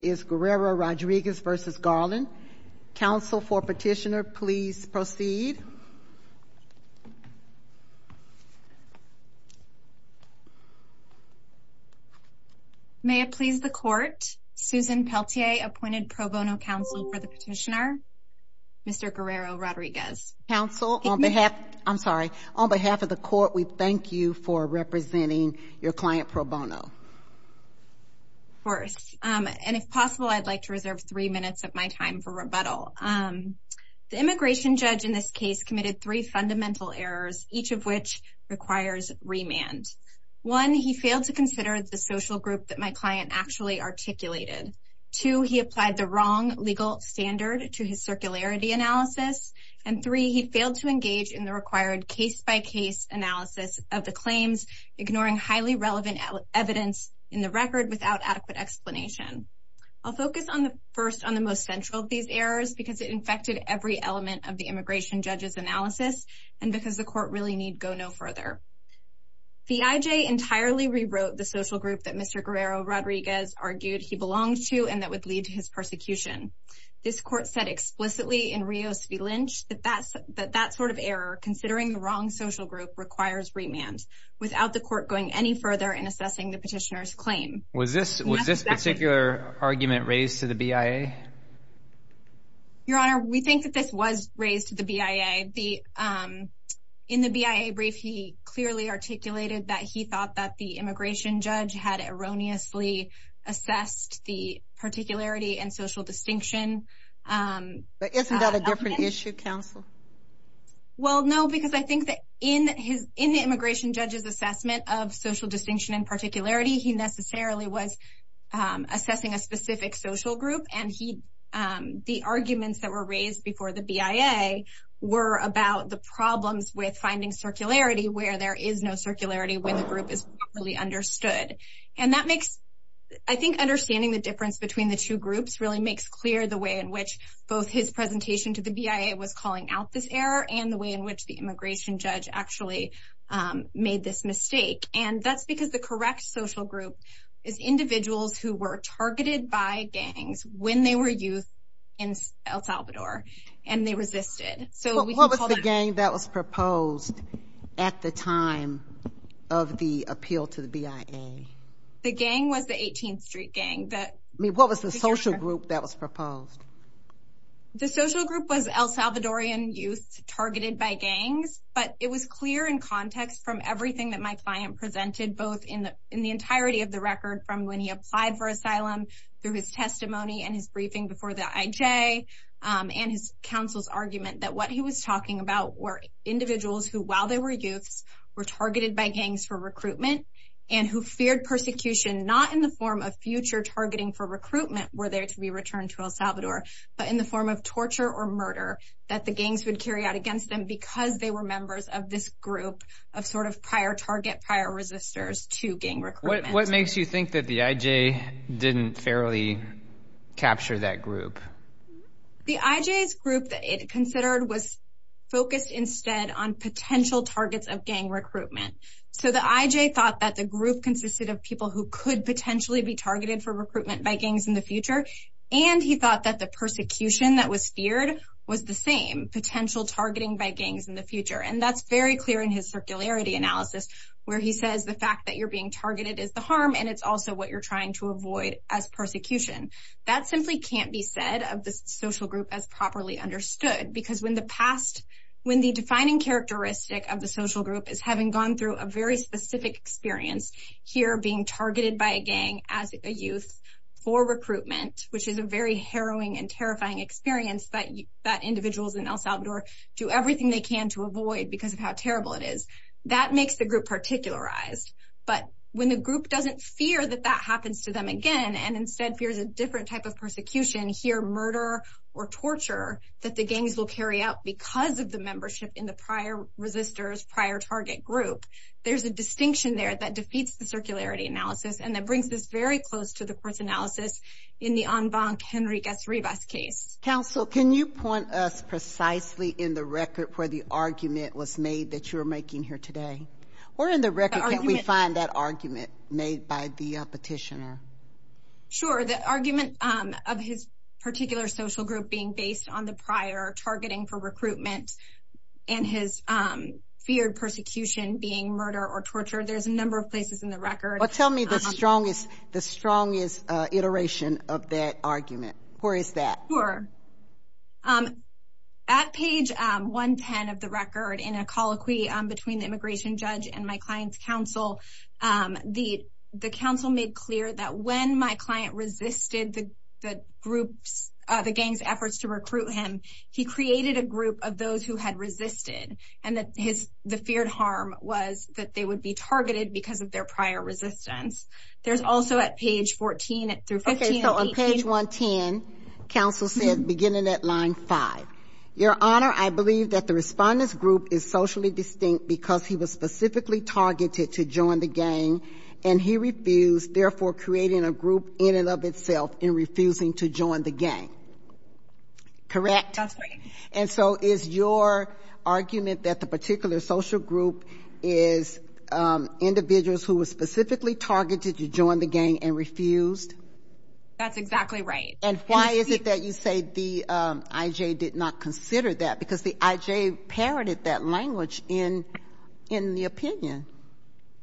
Is Guerrero Rodriguez v. Garland. Counsel for petitioner, please proceed. May it please the court, Susan Peltier, appointed pro bono counsel for the petitioner, Mr. Guerrero Rodriguez. Counsel, on behalf, I'm sorry, on behalf of the court, we thank you for representing your client pro bono. First, and if possible, I'd like to reserve three minutes of my time for rebuttal. The immigration judge in this case committed three fundamental errors, each of which requires remand. One, he failed to consider the social group that my client actually articulated. Two, he applied the wrong legal standard to his circularity analysis. And three, he failed to engage in the required case-by-case analysis of the claims, ignoring highly relevant evidence in the record without adequate explanation. I'll focus first on the most central of these errors, because it infected every element of the immigration judge's analysis, and because the court really need go no further. The IJ entirely rewrote the social group that Mr. Guerrero Rodriguez argued he belonged to and that would lead to his persecution. This court said explicitly in Rios v. Lynch that that sort of error, considering the wrong social group, requires remand, without the court going any further in assessing the petitioner's claim. Was this particular argument raised to the BIA? Your Honor, we think that this was raised to the BIA. In the BIA brief, he clearly articulated that he thought that the immigration judge had erroneously assessed the particularity and social distinction. But isn't that a different issue, counsel? Well, no, because I think that in the immigration judge's assessment of social distinction and particularity, he necessarily was assessing a specific social group, and the arguments that were raised before the BIA were about the problems with finding circularity where there is no circularity when the group is properly understood. And I think understanding the difference between the two groups really makes clear the way in which both his presentation to the BIA was calling out this error and the way in which the immigration judge actually made this mistake. And that's because the correct social group is individuals who were targeted by gangs when they were youth in El Salvador, and they resisted. So we can call that out. What was the gang that was proposed at the time of the appeal to the BIA? The gang was the 18th Street Gang. What was the social group that was proposed? The social group was El Salvadorian youth targeted by gangs, but it was clear in context from everything that my client presented, both in the entirety of the record from when he applied for asylum, through his testimony and his briefing before the IJ, and his counsel's argument that what he was talking about were individuals who, while they were youths, were targeting for recruitment, were there to be returned to El Salvador, but in the form of torture or murder that the gangs would carry out against them because they were members of this group of sort of prior target, prior resistors to gang recruitment. What makes you think that the IJ didn't fairly capture that group? The IJ's group that it considered was focused instead on potential targets of gang recruitment. So the IJ thought that the group consisted of people who could potentially be targeted for recruitment by gangs in the future, and he thought that the persecution that was feared was the same, potential targeting by gangs in the future. And that's very clear in his circularity analysis, where he says the fact that you're being targeted is the harm, and it's also what you're trying to avoid as persecution. That simply can't be said of the social group as properly understood, because when the past, when the defining characteristic of the social group is having gone through a very specific experience, here being targeted by a gang as a youth for recruitment, which is a very harrowing and terrifying experience that individuals in El Salvador do everything they can to avoid because of how terrible it is, that makes the group particularized. But when the group doesn't fear that that happens to them again, and instead fears a different type of persecution, here murder or torture that the gangs will carry out because of the membership in the prior resistors, prior target group, there's a distinction there that defeats the circularity analysis, and that brings us very close to the court's analysis in the En Bonk-Henrique S. Rivas case. Counsel, can you point us precisely in the record where the argument was made that you're making here today? Or in the record, can we find that argument made by the petitioner? Sure, the argument of his particular social group being based on the prior targeting for and his feared persecution being murder or torture, there's a number of places in the record. Well, tell me the strongest iteration of that argument. Where is that? Sure. At page 110 of the record, in a colloquy between the immigration judge and my client's counsel, the counsel made clear that when my client resisted the gang's efforts to recruit him, he created a group of those who had resisted, and that the feared harm was that they would be targeted because of their prior resistance. There's also at page 14 through 15 of the petition. Okay, so on page 110, counsel said, beginning at line 5, Your Honor, I believe that the respondent's group is socially distinct because he was specifically targeted to join the gang, and he refused, therefore creating a group in and of itself in refusing to join the gang. Correct? That's right. And so is your argument that the particular social group is individuals who were specifically targeted to join the gang and refused? That's exactly right. And why is it that you say the I.J. did not consider that? Because the I.J. parroted that language in the opinion.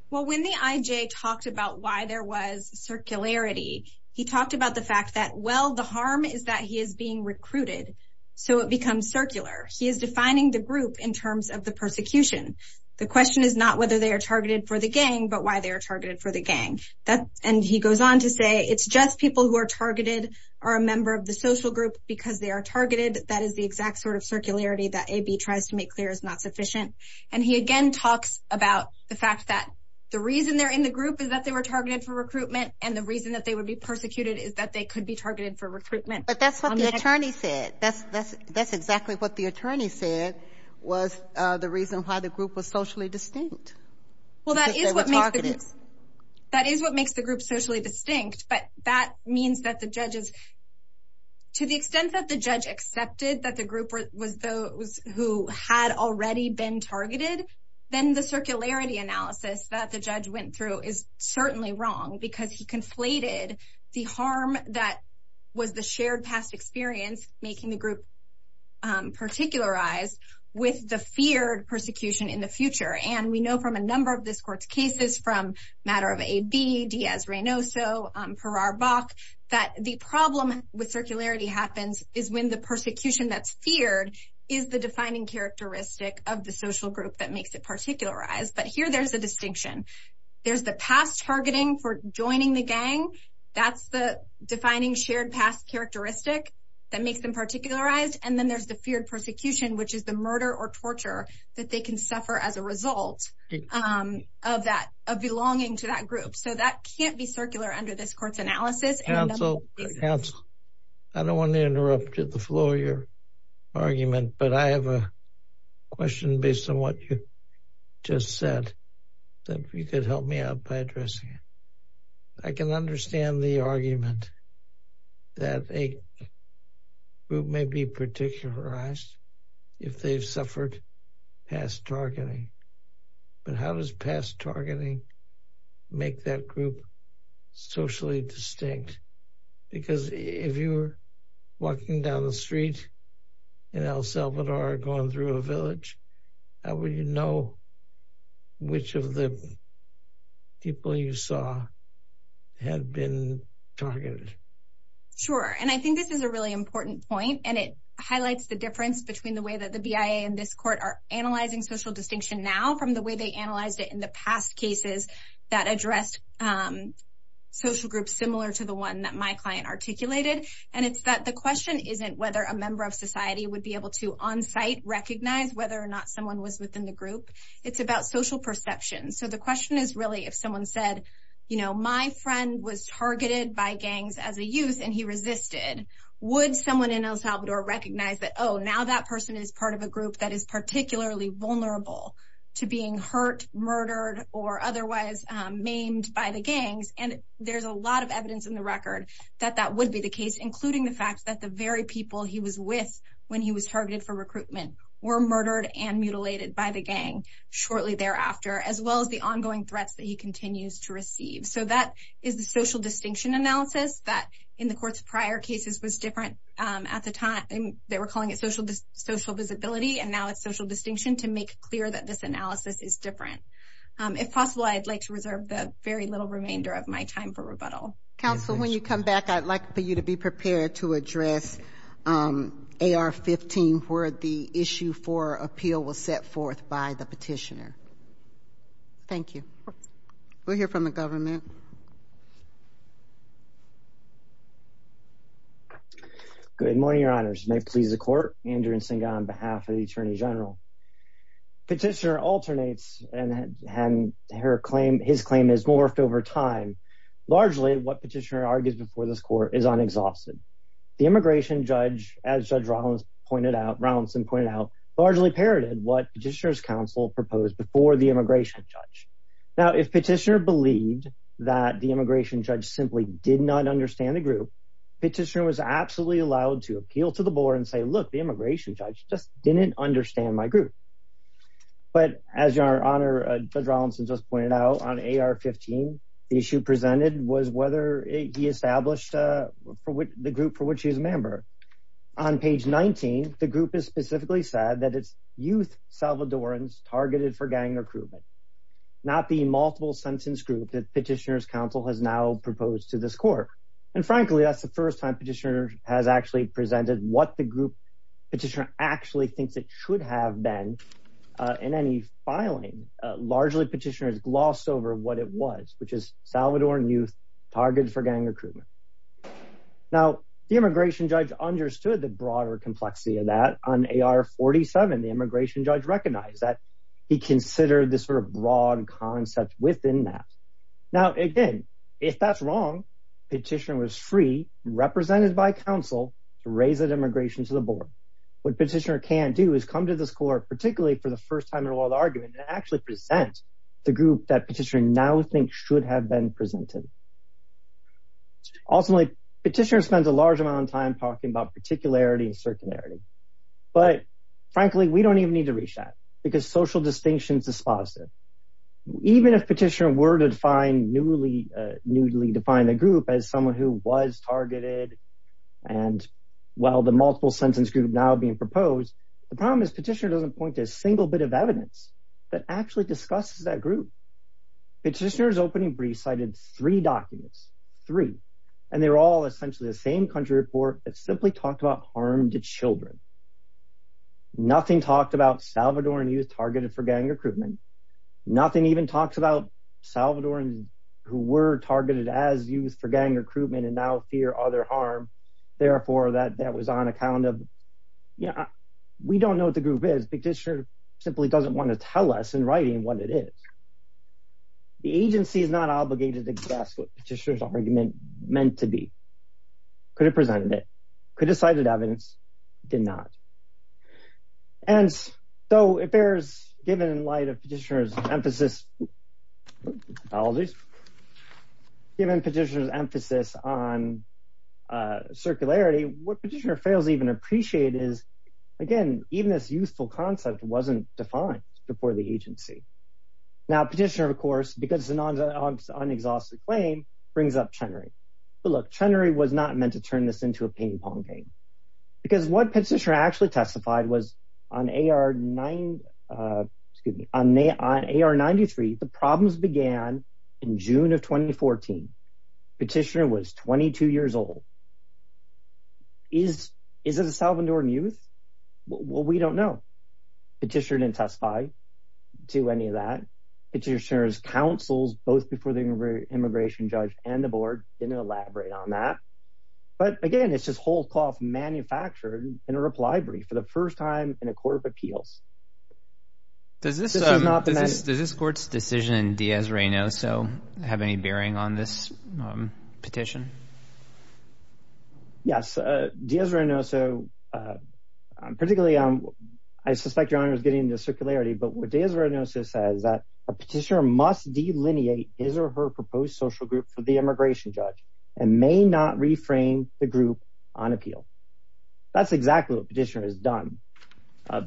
Well, when the I.J. talked about why there was circularity, he talked about the fact that, well, the harm is that he is being recruited, so it becomes circular. He is defining the group in terms of the persecution. The question is not whether they are targeted for the gang, but why they are targeted for the gang. And he goes on to say it's just people who are targeted or a member of the social group because they are targeted. That is the exact sort of circularity that A.B. tries to make clear is not sufficient. And he again talks about the fact that the reason they're in the group is that they were targeted for recruitment. But that's what the attorney said. That's exactly what the attorney said was the reason why the group was socially distinct. Well that is what makes the group socially distinct, but that means that the judges, to the extent that the judge accepted that the group was those who had already been targeted, then the circularity analysis that the judge went through is certainly wrong because he conflated the harm that was the shared past experience, making the group particularized, with the feared persecution in the future. And we know from a number of this court's cases, from Matter of A.B., Diaz-Reynoso, Perar-Bach, that the problem with circularity happens is when the persecution that's feared is the defining characteristic of the social group that makes it particularized. But here there's a distinction. There's the past targeting for joining the gang. That's the defining shared past characteristic that makes them particularized. And then there's the feared persecution, which is the murder or torture that they can suffer as a result of that, of belonging to that group. So that can't be circular under this court's analysis. Counsel, counsel, I don't want to interrupt the flow of your argument, but I have a question based on what you just said, that if you could help me out by addressing it. I can understand the argument that a group may be particularized if they've suffered past targeting, but how does past targeting make that group socially distinct? Because if you were walking down the street in El Salvador going through a village, how would you know which of the people you saw had been targeted? Sure, and I think this is a really important point, and it highlights the difference between the way that the BIA and this court are analyzing social distinction now from the way they analyzed it in the past cases that addressed social groups similar to the one that my client articulated. And it's that the question isn't whether a member of society would be able to on-site recognize whether or not someone was within the group. It's about social perception. So the question is really if someone said, you know, my friend was targeted by gangs as a youth and he resisted, would someone in El Salvador recognize that, oh, now that or otherwise maimed by the gangs? And there's a lot of evidence in the record that that would be the case, including the fact that the very people he was with when he was targeted for recruitment were murdered and mutilated by the gang shortly thereafter, as well as the ongoing threats that he continues to receive. So that is the social distinction analysis that in the court's prior cases was different at the time. They were calling it social visibility, and now it's social distinction to make clear that this analysis is different. If possible, I'd like to reserve the very little remainder of my time for rebuttal. Counsel, when you come back, I'd like for you to be prepared to address AR-15, where the issue for appeal was set forth by the petitioner. Thank you. We'll hear from the government. Good morning, Your Honors. May it please the Court, Andrew Nsinga on behalf of the Attorney General. Petitioner alternates, and his claim has morphed over time. Largely, what petitioner argues before this Court is unexhausted. The immigration judge, as Judge Rollins pointed out, Rollinson pointed out, largely parroted what petitioner's counsel proposed before the immigration judge. Now if petitioner believed that the immigration judge simply did not understand the group, petitioner was absolutely allowed to appeal to the board and say, look, the immigration judge just didn't understand my group. But as Your Honor, Judge Rollinson just pointed out, on AR-15, the issue presented was whether he established the group for which he is a member. On page 19, the group has specifically said that it's youth Salvadorans targeted for gang recruitment, not the multiple sentence group that petitioner's counsel has now proposed to this Court. And frankly, that's the first time petitioner has actually presented what the group petitioner actually thinks it should have been in any filing. Largely, petitioner has glossed over what it was, which is Salvadoran youth targeted for gang recruitment. Now the immigration judge understood the broader complexity of that. On AR-47, the immigration judge recognized that he considered this sort of broad concept within that. Now, again, if that's wrong, petitioner was free, represented by counsel, to raise that immigration to the board. What petitioner can do is come to this Court, particularly for the first time in a lot of the argument, and actually present the group that petitioner now thinks should have been presented. Ultimately, petitioner spends a large amount of time talking about particularity and circularity. But frankly, we don't even need to reach that because social distinction is dispositive. Even if petitioner were to define newly, newly define the group as someone who was targeted, and while the multiple sentence group now being proposed, the problem is petitioner doesn't point to a single bit of evidence that actually discusses that group. Petitioner's opening brief cited three documents, three, and they're all essentially the same country report that simply talked about harm to children. Nothing talked about Salvadoran youth targeted for gang recruitment. Nothing even talks about Salvadorans who were targeted as youth for gang recruitment and now fear other harm. Therefore, that was on account of, you know, we don't know what the group is. Petitioner simply doesn't want to tell us in writing what it is. The agency is not obligated to discuss what petitioner's argument meant to be. Could have presented it. Could have cited evidence. Did not. And so it bears, given in light of petitioner's emphasis, apologies, given petitioner's emphasis on circularity, what petitioner fails to even appreciate is, again, even this youthful concept wasn't defined before the agency. Now, petitioner, of course, because it's an unexhausted claim, brings up Chenery. But look, Chenery was not meant to turn this into a ping pong game because what petitioner actually testified was on AR 9, excuse me, on AR 93, the problems began in June of 2014. Petitioner was 22 years old. Is it a Salvadoran youth? Well, we don't know. Petitioner didn't testify to any of that. Petitioner's counsels, both before the immigration judge and the board, didn't elaborate on that. But again, it's just whole cloth manufactured in a reply brief for the first time in a court of appeals. Does this court's decision in Diaz-Reynoso have any bearing on this petition? Yes. Diaz-Reynoso, particularly, I suspect Your Honor is getting into circularity, but what a petitioner must delineate his or her proposed social group for the immigration judge and may not reframe the group on appeal. That's exactly what petitioner has done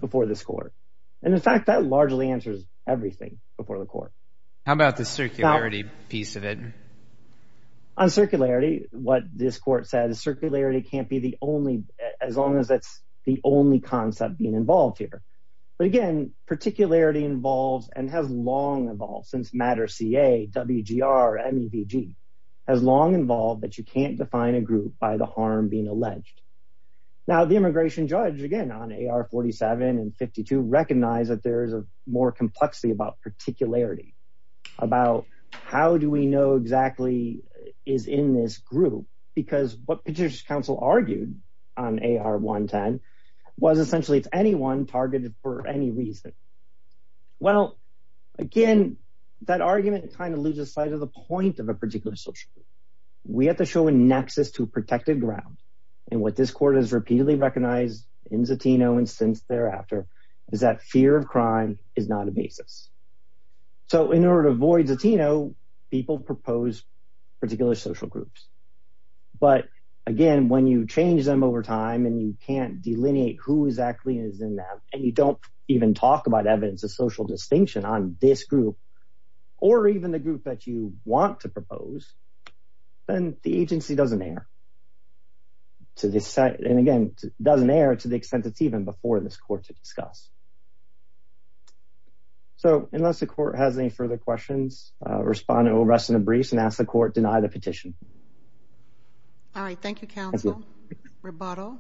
before this court. And in fact, that largely answers everything before the court. How about the circularity piece of it? On circularity, what this court said is circularity can't be the only, as long as it's the only concept being involved here. But again, particularity involves and has long involved, since MATTER-CA, WGR, MEVG, has long involved that you can't define a group by the harm being alleged. Now the immigration judge, again, on AR-47 and 52, recognized that there is a more complexity about particularity, about how do we know exactly is in this group? Because what Petitioner's Counsel argued on AR-110 was essentially it's anyone targeted for any reason. Well, again, that argument kind of loses sight of the point of a particular social group. We have to show a nexus to a protected ground. And what this court has repeatedly recognized in Zatino and since thereafter is that fear of crime is not a basis. So in order to avoid Zatino, people propose particular social groups. But again, when you change them over time and you can't delineate who exactly is in them and you don't even talk about evidence of social distinction on this group or even the group that you want to propose, then the agency doesn't err. And again, it doesn't err to the extent it's even before this court to discuss. So, unless the court has any further questions, respond to arrest in a brief and ask the court deny the petition. All right. Thank you, counsel. Thank you. Rebottle?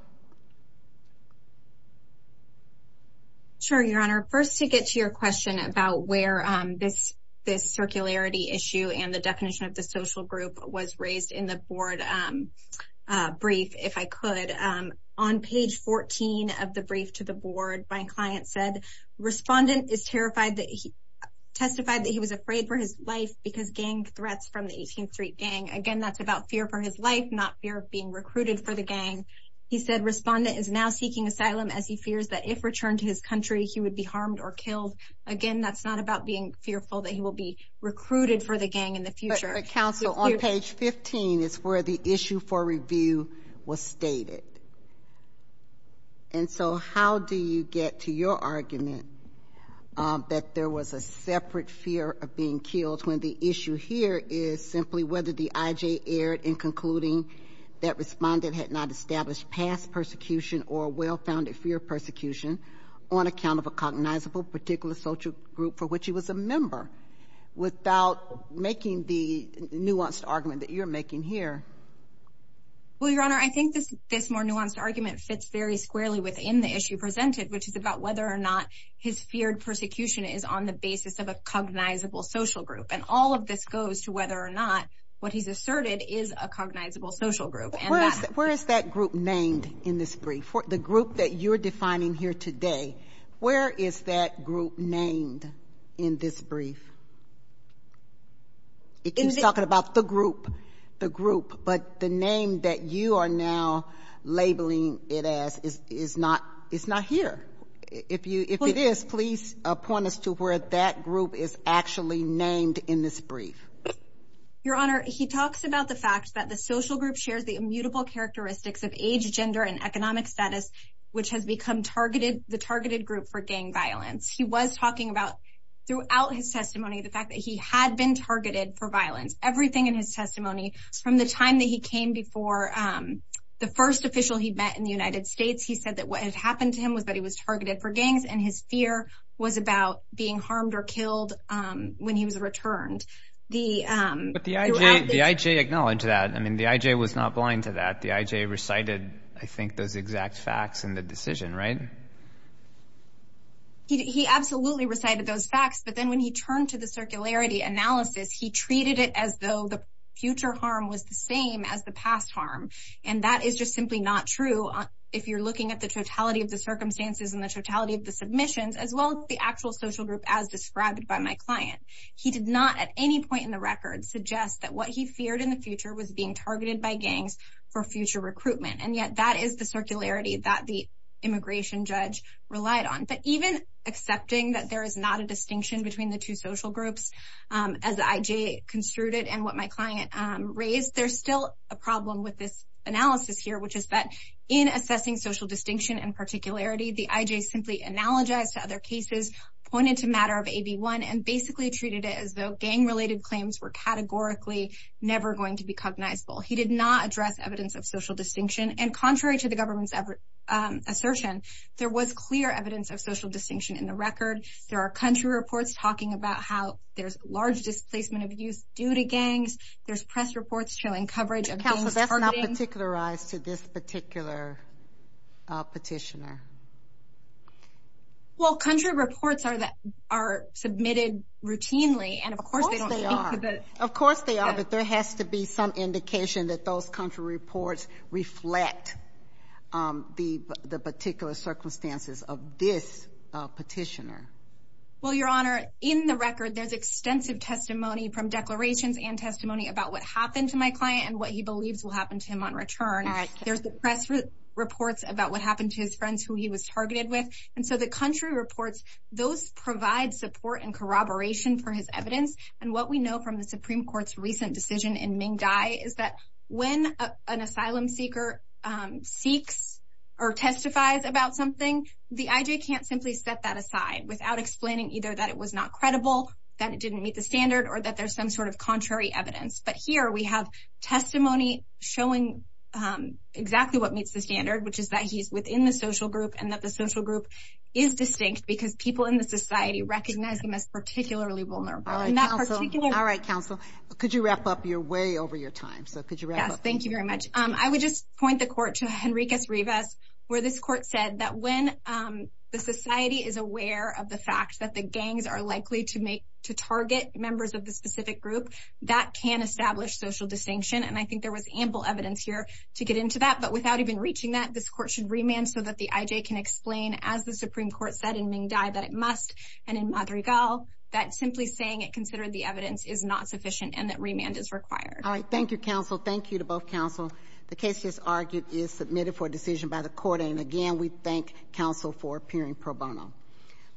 Sure, Your Honor. First, to get to your question about where this circularity issue and the definition of the social group was raised in the board brief, if I could, on page 14 of the brief to the board, my client said, respondent is terrified that he testified that he was afraid for his life because gang threats from the 18th Street Gang. Again, that's about fear for his life, not fear of being recruited for the gang. He said, respondent is now seeking asylum as he fears that if returned to his country, he would be harmed or killed. Again, that's not about being fearful that he will be recruited for the gang in the future. But counsel, on page 15 is where the issue for review was stated. And so how do you get to your argument that there was a separate fear of being killed when the issue here is simply whether the IJ erred in concluding that respondent had not established past persecution or well-founded fear of persecution on account of a cognizable particular social group for which he was a member without making the nuanced argument that you're making here? Well, Your Honor, I think this more nuanced argument fits very squarely within the issue presented, which is about whether or not his feared persecution is on the basis of a cognizable social group. And all of this goes to whether or not what he's asserted is a cognizable social group. Where is that group named in this brief? The group that you're defining here today, where is that group named in this brief? He's talking about the group, the group. But the name that you are now labeling it as is not here. If it is, please point us to where that group is actually named in this brief. Your Honor, he talks about the fact that the social group shares the immutable characteristics of age, gender, and economic status, which has become the targeted group for gang violence. He was talking about, throughout his testimony, the fact that he had been targeted for violence. Everything in his testimony, from the time that he came before the first official he met in the United States, he said that what had happened to him was that he was targeted for gangs, and his fear was about being harmed or killed when he was returned. But the I.J. acknowledged that. The I.J. was not blind to that. The I.J. recited, I think, those exact facts in the decision, right? He absolutely recited those facts, but then when he turned to the circularity analysis, he treated it as though the future harm was the same as the past harm. And that is just simply not true, if you're looking at the totality of the circumstances and the totality of the submissions, as well as the actual social group as described by my client. He did not, at any point in the record, suggest that what he feared in the future was being targeted by gangs for future recruitment. And yet, that is the circularity that the immigration judge relied on. But even accepting that there is not a distinction between the two social groups, as the I.J. construed it and what my client raised, there's still a problem with this analysis here, which is that in assessing social distinction and particularity, the I.J. simply analogized to other cases, pointed to a matter of AB1, and basically treated it as though gang-related claims were categorically never going to be cognizable. He did not address evidence of social distinction. And contrary to the government's assertion, there was clear evidence of social distinction in the record. There are country reports talking about how there's large displacement of youth due to gangs. There's press reports showing coverage of gangs targeting... But, Counselor, that's not particularized to this particular petitioner. Well, country reports are submitted routinely, and of course they don't... Of course they are. Of course they are. But there has to be some indication that those country reports reflect the particular circumstances of this petitioner. Well, Your Honor, in the record, there's extensive testimony from declarations and testimony about what happened to my client and what he believes will happen to him on return. There's the press reports about what happened to his friends who he was targeted with. And so the country reports, those provide support and corroboration for his evidence. And what we know from the Supreme Court's recent decision in Ming Dai is that when an asylum seeker seeks or testifies about something, the IJ can't simply set that aside without explaining either that it was not credible, that it didn't meet the standard, or that there's some sort of contrary evidence. But here we have testimony showing exactly what meets the standard, which is that he's within the social group and that the social group is distinct because people in the society recognize him as particularly vulnerable. All right, counsel. All right, counsel. Could you wrap up? You're way over your time. So could you wrap up? Yes, thank you very much. I would just point the court to Henriquez Rivas, where this court said that when the society is aware of the fact that the gangs are likely to target members of the specific group, that can establish social distinction. And I think there was ample evidence here to get into that. But without even reaching that, this court should remand so that the IJ can explain, as the Supreme Court said in Ming Dai, that it must. And in Madrigal, that simply saying it considered the evidence is not sufficient and that remand is required. All right. Thank you, counsel. Thank you to both counsel. The case, as argued, is submitted for decision by the court. And again, we thank counsel for appearing pro bono.